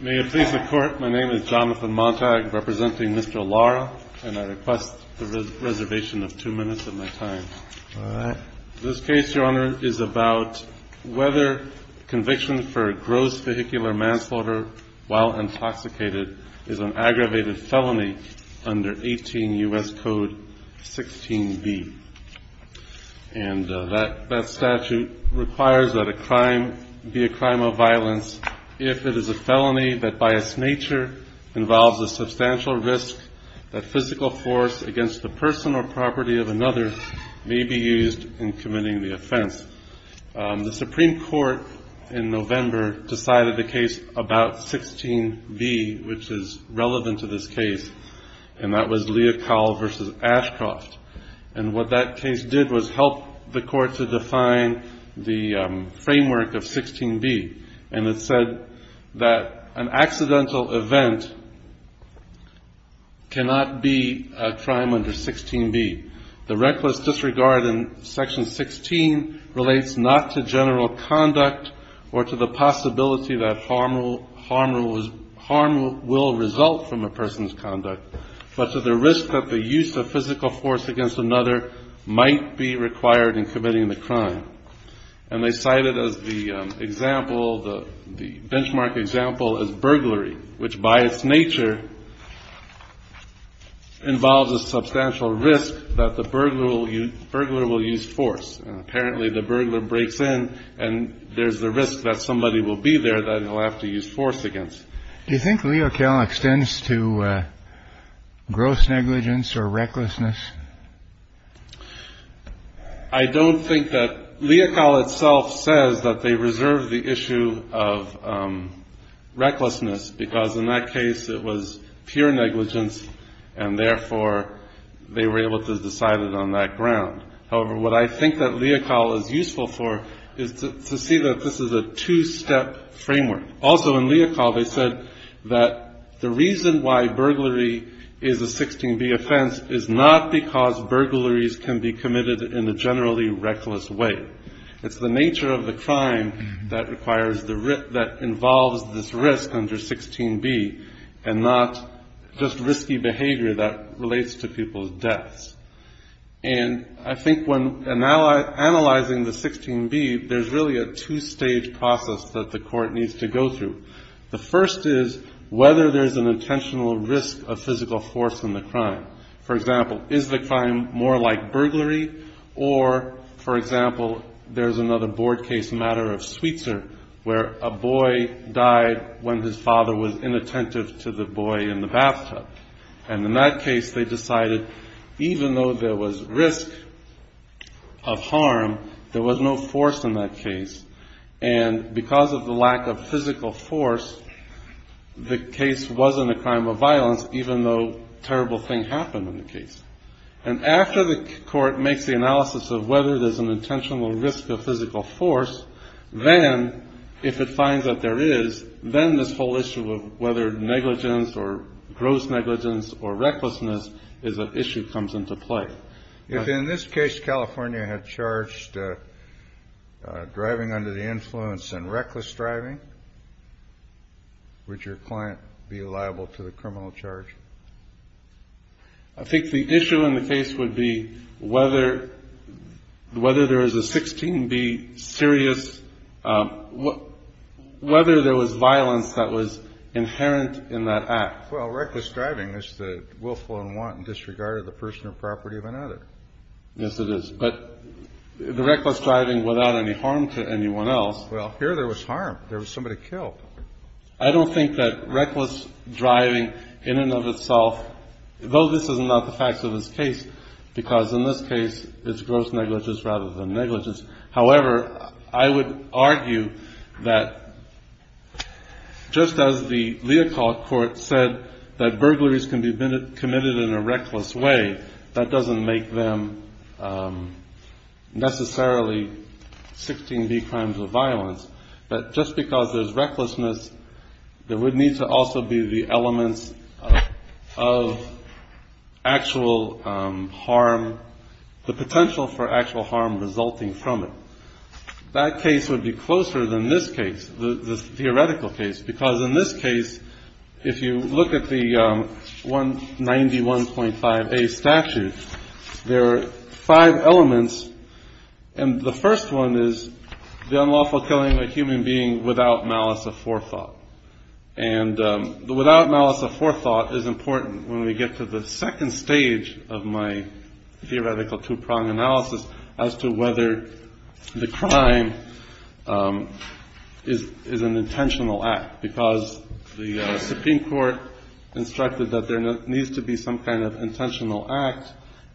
May it please the Court, my name is Jonathan Montag, representing Mr. Lara, and I request the reservation of two minutes of my time. All right. This case, Your Honor, is about whether conviction for gross vehicular manslaughter while intoxicated is an aggravated felony under 18 U.S. Code 16b. And that statute requires that a crime be a crime of violence if it is a felony that by its nature involves a substantial risk that physical force against the person or property of another may be used in committing the offense. The Supreme Court in November decided the case about 16b, which is relevant to this case, and that was Leocal v. Ashcroft. And what that case did was help the Court to define the framework of 16b, and it said that an accidental event cannot be a crime under 16b. The reckless disregard in Section 16 relates not to general conduct or to the possibility that harm will result from a person's conduct, but to the risk that the use of physical force against another might be required in committing the crime. And they cite it as the benchmark example as burglary, which by its nature involves a substantial risk that the burglar will use force. And apparently the burglar breaks in and there's the risk that somebody will be there that he'll have to use force against. Do you think Leocal extends to gross negligence or recklessness? I don't think that. Leocal itself says that they reserve the issue of recklessness because in that case it was pure negligence and therefore they were able to decide it on that ground. However, what I think that Leocal is useful for is to see that this is a two-step framework. Also in Leocal they said that the reason why burglary is a 16b offense is not because burglaries can be committed in a generally reckless way. It's the nature of the crime that requires the risk that involves this risk under 16b and not just risky behavior that relates to people's deaths. And I think when analyzing the 16b, there's really a two-stage process that the court needs to go through. The first is whether there's an intentional risk of physical force in the crime. For example, is the crime more like burglary? Or, for example, there's another board case matter of Sweetser where a boy died when his father was inattentive to the boy in the bathtub. And in that case they decided even though there was risk of harm, there was no force in that case. And because of the lack of physical force, the case wasn't a crime of violence even though a terrible thing happened in the case. And after the court makes the analysis of whether there's an intentional risk of physical force, then if it finds that there is, then this whole issue of whether negligence or gross negligence or recklessness is an issue comes into play. If in this case California had charged driving under the influence and reckless driving, would your client be liable to the criminal charge? I think the issue in the case would be whether there is a 16B serious, whether there was violence that was inherent in that act. Well, reckless driving is the willful and wanton disregard of the person or property of another. Yes, it is. But the reckless driving without any harm to anyone else. Well, here there was harm. There was somebody killed. I don't think that reckless driving in and of itself, though this is not the facts of this case, because in this case it's gross negligence rather than negligence. However, I would argue that just as the Leopold Court said that burglaries can be committed in a reckless way, that doesn't make them necessarily 16B crimes of violence. But just because there's recklessness, there would need to also be the elements of actual harm, the potential for actual harm resulting from it. That case would be closer than this case, the theoretical case, because in this case if you look at the 191.5A statute, there are five elements. And the first one is the unlawful killing of a human being without malice of forethought. And the without malice of forethought is important when we get to the second stage of my theoretical two-prong analysis as to whether the crime is an intentional act, because the Supreme Court instructed that there needs to be some kind of intentional act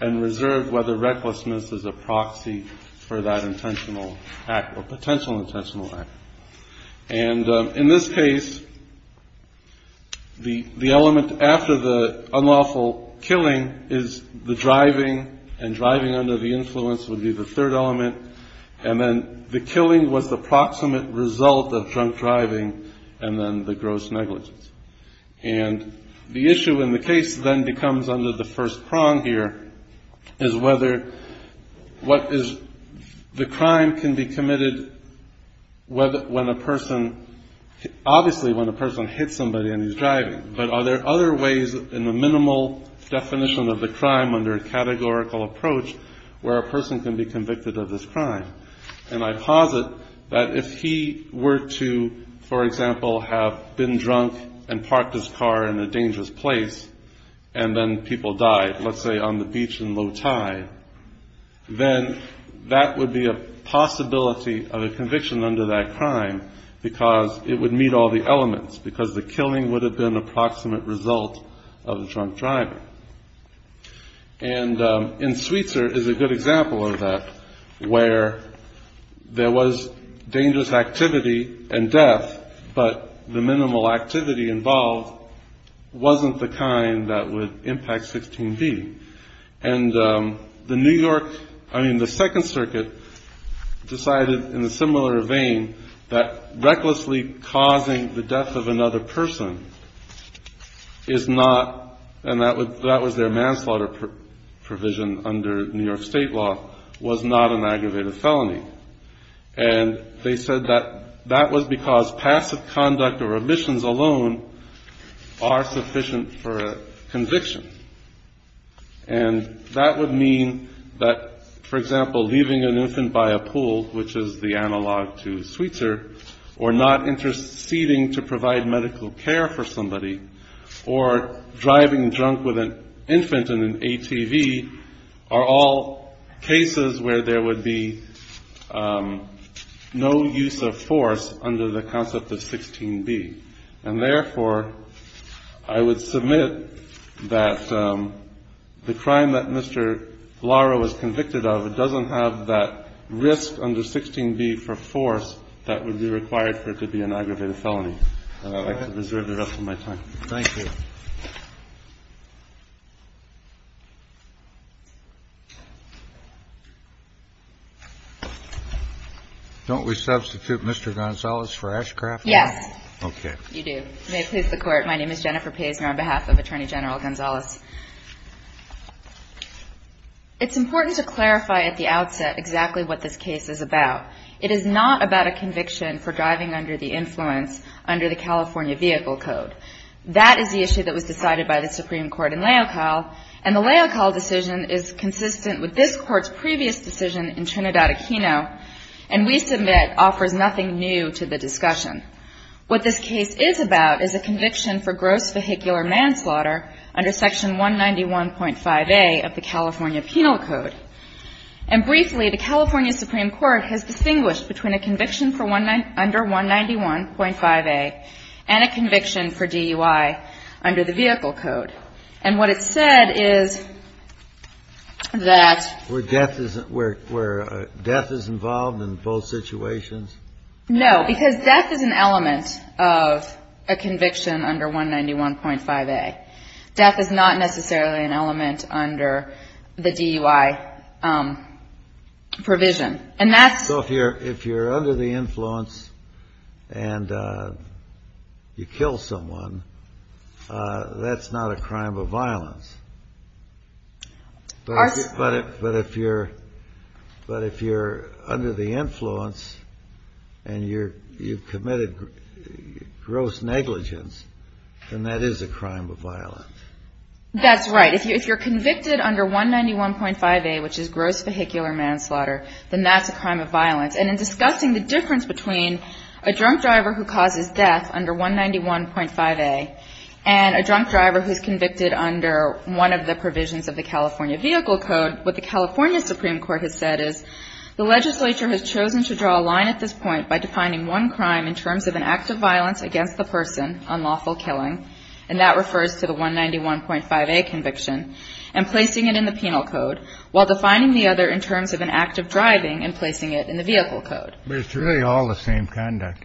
and reserve whether recklessness is a proxy for that intentional act or potential intentional act. And in this case, the element after the unlawful killing is the driving, and driving under the influence would be the third element. And then the killing was the proximate result of drunk driving and then the gross negligence. And the issue in the case then becomes under the first prong here, is whether what is the crime can be committed when a person, obviously when a person hits somebody and he's driving, but are there other ways in the minimal definition of the crime under a categorical approach where a person can be convicted of this crime? And I posit that if he were to, for example, have been drunk and parked his car in a dangerous place and then people died, let's say on the beach in low tide, then that would be a possibility of a conviction under that crime because it would meet all the elements, because the killing would have been a proximate result of the drunk driving. And in Sweetser is a good example of that, where there was dangerous activity and death, but the minimal activity involved wasn't the kind that would impact 16B. And the New York, I mean, the Second Circuit decided in a similar vein that recklessly causing the death of another person is not, and that was their manslaughter provision under New York State law, was not an aggravated felony. And they said that that was because passive conduct or omissions alone are sufficient for a conviction. And that would mean that, for example, leaving an infant by a pool, which is the analog to Sweetser, or not interceding to provide medical care for somebody, or driving drunk with an infant in an ATV, are all cases where there would be no use of force under the concept of 16B. And therefore, I would submit that the crime that Mr. Lara was convicted of doesn't have that risk under 16B for force that would be required for it to be an aggravated felony. And I'd like to reserve the rest of my time. Thank you. Don't we substitute Mr. Gonzalez for Ashcroft? Yes. Okay. You do. May it please the Court, my name is Jennifer Paisner on behalf of Attorney General Gonzalez. It's important to clarify at the outset exactly what this case is about. It is not about a conviction for driving under the influence under the California Vehicle Code. That is the issue that was decided by the Supreme Court in Leocal, and the Leocal decision is consistent with this Court's previous decision in Trinidad Aquino, and we submit offers nothing new to the discussion. What this case is about is a conviction for gross vehicular manslaughter under Section 191.5A of the California Penal Code. And briefly, the California Supreme Court has distinguished between a conviction for under 191.5A and a conviction for DUI under the Vehicle Code. And what it said is that ---- Where death is involved in both situations? No, because death is an element of a conviction under 191.5A. Death is not necessarily an element under the DUI provision. And that's ---- So if you're under the influence and you kill someone, that's not a crime of violence. But if you're under the influence and you've committed gross negligence, then that is a crime of violence. That's right. If you're convicted under 191.5A, which is gross vehicular manslaughter, then that's a crime of violence. And in discussing the difference between a drunk driver who causes death under 191.5A and a drunk driver who's convicted under one of the provisions of the California Vehicle Code, what the California Supreme Court has said is the legislature has chosen to draw a line at this point by defining one crime in terms of an act of violence against the person, unlawful killing, and that refers to the 191.5A conviction, and placing it in the Penal Code, while defining the other in terms of an act of driving and placing it in the Vehicle Code. But it's really all the same conduct.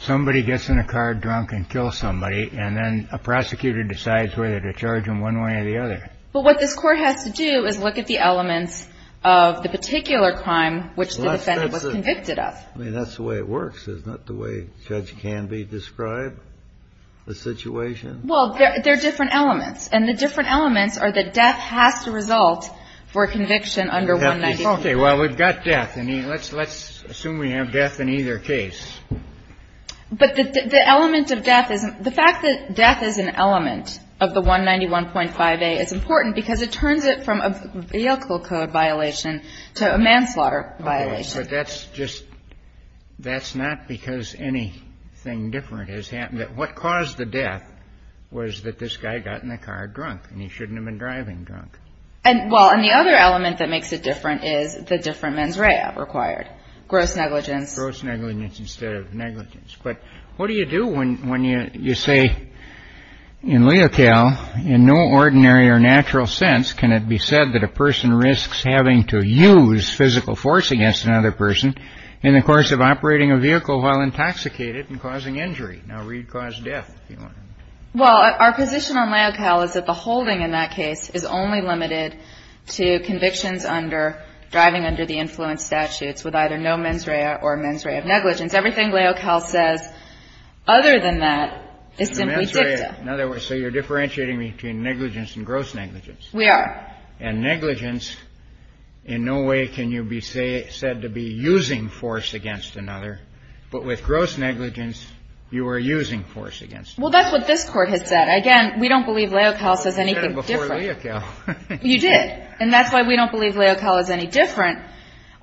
Somebody gets in a car drunk and kills somebody, and then a prosecutor decides whether to charge them one way or the other. But what this Court has to do is look at the elements of the particular crime which the defendant was convicted of. I mean, that's the way it works. It's not the way Judge Canby described the situation. Well, there are different elements, and the different elements are that death has to result for a conviction under 191.5A. Let's assume we have death in either case. But the element of death is the fact that death is an element of the 191.5A is important because it turns it from a vehicle code violation to a manslaughter violation. Okay. But that's just, that's not because anything different has happened. What caused the death was that this guy got in the car drunk, and he shouldn't have been driving drunk. Well, and the other element that makes it different is the different mens rea required. Gross negligence. Gross negligence instead of negligence. But what do you do when you say in Leocal, in no ordinary or natural sense, can it be said that a person risks having to use physical force against another person in the course of operating a vehicle while intoxicated and causing injury? Now, where you'd cause death, if you want to. Well, our position on Leocal is that the holding in that case is only limited to convictions under, driving under the influence statutes with either no mens rea or mens rea of negligence. Everything Leocal says other than that is simply dicta. So you're differentiating between negligence and gross negligence. We are. And negligence, in no way can you be said to be using force against another. But with gross negligence, you are using force against another. Well, that's what this Court has said. Again, we don't believe Leocal says anything different. You said it before Leocal. You did. And that's why we don't believe Leocal is any different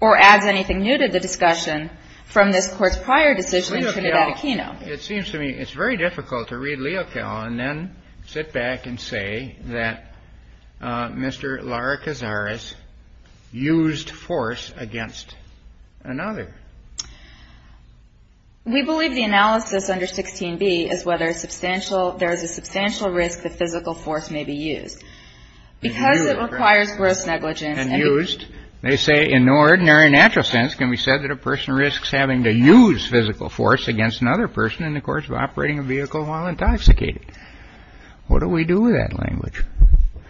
or adds anything new to the discussion from this Court's prior decision in Trinidad Aquino. Leocal. It seems to me it's very difficult to read Leocal and then sit back and say that Mr. Lara Cazares used force against another. We believe the analysis under 16b is whether there is a substantial risk that physical force may be used. Because it requires gross negligence. And used, they say in no ordinary natural sense can we say that a person risks having to use physical force against another person in the course of operating a vehicle while intoxicated. What do we do with that language?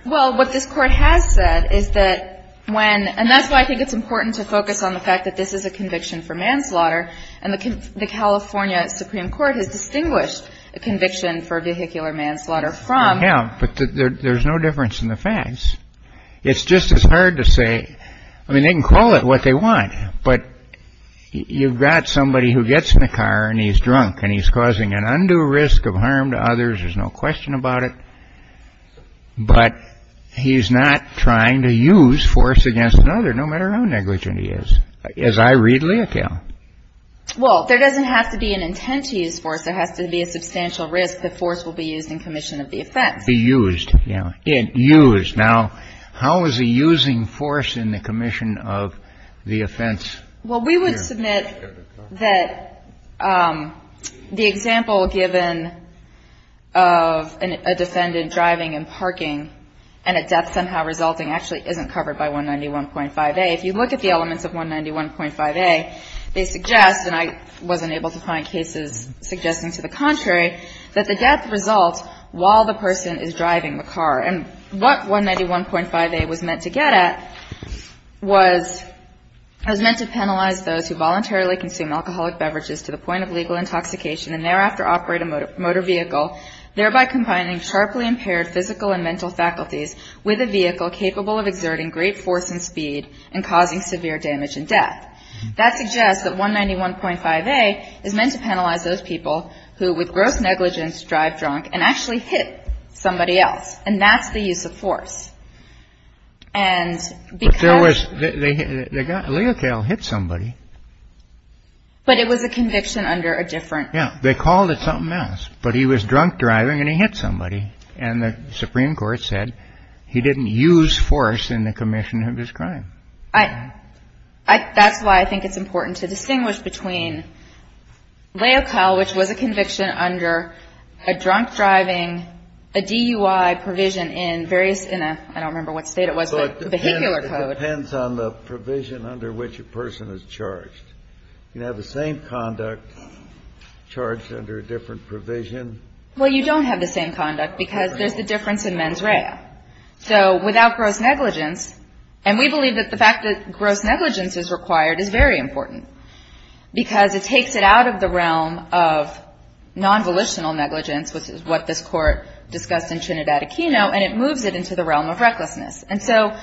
Well, what this Court has said is that when and that's why I think it's important to focus on the fact that this is a conviction for manslaughter and the California Supreme Court has distinguished a conviction for vehicular manslaughter from. Yeah, but there's no difference in the facts. It's just as hard to say. I mean, they can call it what they want. But you've got somebody who gets in the car and he's drunk and he's causing an undue risk of harm to others. There's no question about it. But he's not trying to use force against another, no matter how negligent he is. As I read Leocal. Well, there doesn't have to be an intent to use force. There has to be a substantial risk that force will be used in commission of the offense. Be used. Yeah. Used. Now, how is he using force in the commission of the offense? Well, we would submit that the example given of a defendant driving and parking and a death somehow resulting actually isn't covered by 191.5a. If you look at the elements of 191.5a, they suggest, and I wasn't able to find cases suggesting to the contrary, that the death results while the person is driving the car. And what 191.5a was meant to get at was meant to penalize those who voluntarily consume alcoholic beverages to the point of legal intoxication and thereafter operate a motor vehicle, thereby combining sharply impaired physical and mental faculties with a vehicle capable of exerting great force and speed and causing severe damage and death. That suggests that 191.5a is meant to penalize those people who with gross negligence drive drunk and actually hit somebody else. And that's the use of force. And because... But there was... Leocal hit somebody. But it was a conviction under a different... Yeah. They called it something else. But he was drunk driving and he hit somebody. And the Supreme Court said he didn't use force in the commission of his crime. That's why I think it's important to distinguish between leocal, which was a conviction under a drunk driving, a DUI provision in various... I don't remember what state it was, but vehicular code. It depends on the provision under which a person is charged. You can have the same conduct charged under a different provision. Well, you don't have the same conduct because there's the difference in mens rea. So without gross negligence, and we believe that the fact that gross negligence is required is very important because it takes it out of the realm of nonvolitional negligence, which is what this Court discussed in Trinidad Aquino, and it moves it into the realm of recklessness. And so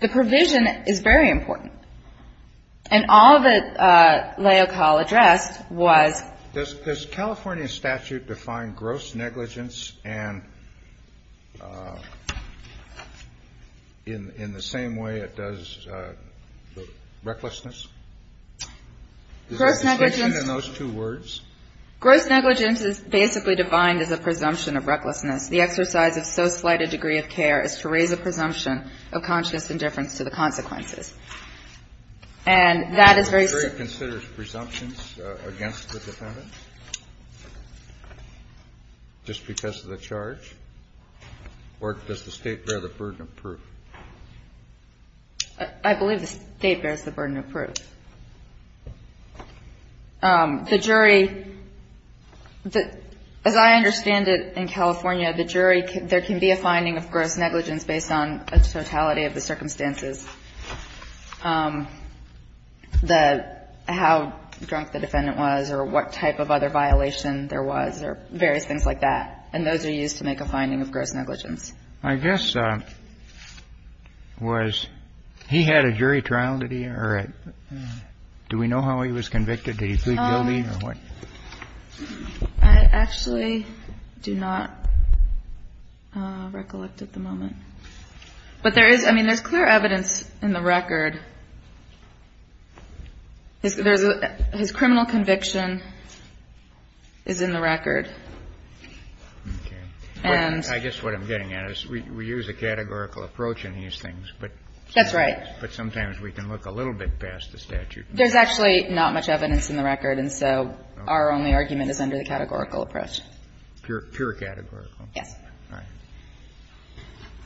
the provision is very important. And all that Leocal addressed was... In the same way it does the recklessness? Is there a distinction in those two words? Gross negligence is basically defined as a presumption of recklessness. The exercise of so slight a degree of care is to raise a presumption of conscious indifference to the consequences. And that is very... The jury considers presumptions against the defendant just because of the charge? Or does the State bear the burden of proof? I believe the State bears the burden of proof. The jury, as I understand it in California, the jury, there can be a finding of gross negligence based on a totality of the circumstances. The how drunk the defendant was or what type of other violation there was or various things like that. And those are used to make a finding of gross negligence. I guess was he had a jury trial? Did he or... Do we know how he was convicted? Did he plead guilty or what? I actually do not recollect at the moment. But there is, I mean, there's clear evidence in the record. His criminal conviction is in the record. And... I guess what I'm getting at is we use a categorical approach in these things. That's right. But sometimes we can look a little bit past the statute. There's actually not much evidence in the record. And so our only argument is under the categorical approach. Pure categorical. Yes.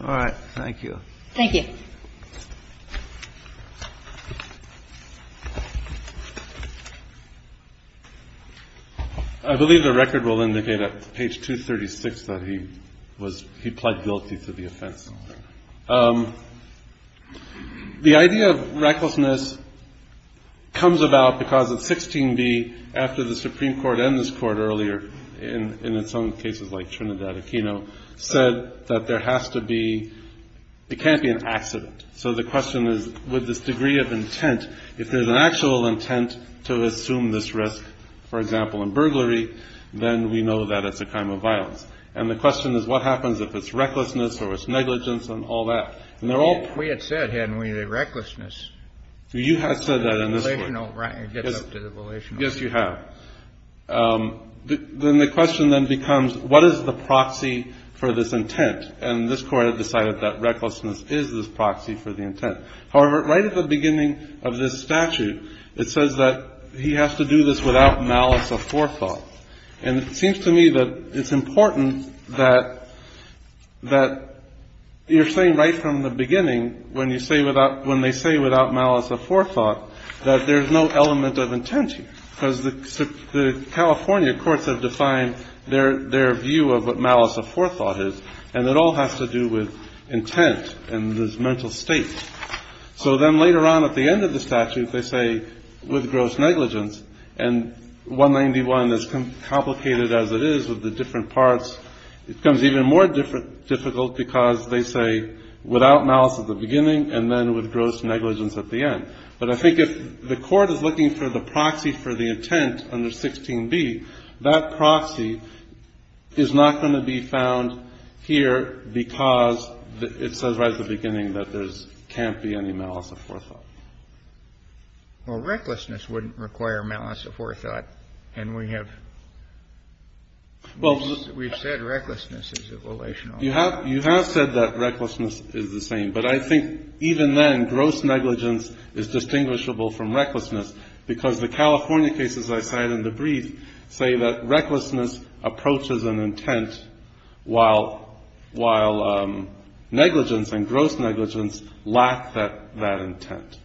All right. Thank you. Thank you. I believe the record will indicate at page 236 that he was, he pled guilty to the offense. The idea of recklessness comes about because of 16B after the Supreme Court and this court earlier in its own cases like Trinidad Aquino said that there has to be, it can't be an accident. So the question is with this degree of intent, if there's an actual intent to assume this risk, for example, in burglary, then we know that it's a crime of violence. And the question is what happens if it's recklessness or it's negligence and all that. And they're all... We had said, hadn't we, that recklessness... You had said that in this court. Relational, right, it gets up to the relational. Yes, you have. Then the question then becomes what is the proxy for this intent? And this court had decided that recklessness is this proxy for the intent. However, right at the beginning of this statute, it says that he has to do this without malice of forethought. And it seems to me that it's important that you're saying right from the beginning when you say without, when they say without malice of forethought, that there's no element of intent here. Because the California courts have defined their view of what malice of forethought is. And it all has to do with intent and this mental state. So then later on at the end of the statute, they say with gross negligence. And 191, as complicated as it is with the different parts, it becomes even more difficult because they say without malice at the beginning and then with gross negligence at the end. But I think if the court is looking for the proxy for the intent under 16b, that proxy is not going to be found here because it says right at the beginning that there can't be any malice of forethought. Kennedy. Well, recklessness wouldn't require malice of forethought. And we have said recklessness is a relation. You have said that recklessness is the same. But I think even then, gross negligence is distinguishable from recklessness because the California cases I cited in the brief say that recklessness approaches an intent while negligence and gross negligence lack that intent.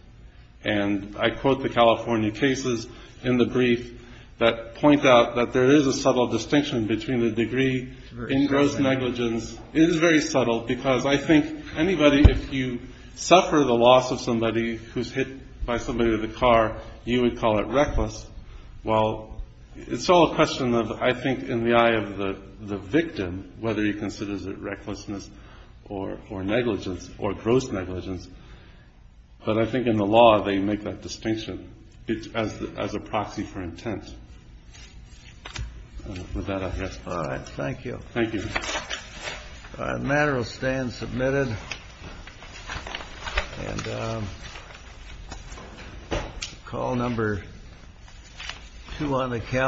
And I quote the California cases in the brief that point out that there is a subtle distinction between the degree in gross negligence. It is very subtle because I think anybody, if you suffer the loss of somebody who's hit by somebody in the car, you would call it reckless. Well, it's all a question of, I think, in the eye of the victim, whether he considers it recklessness or negligence or gross negligence. But I think in the law they make that distinction as a proxy for intent. With that, I guess. All right. The matter will stand submitted. Call number two on the calendar.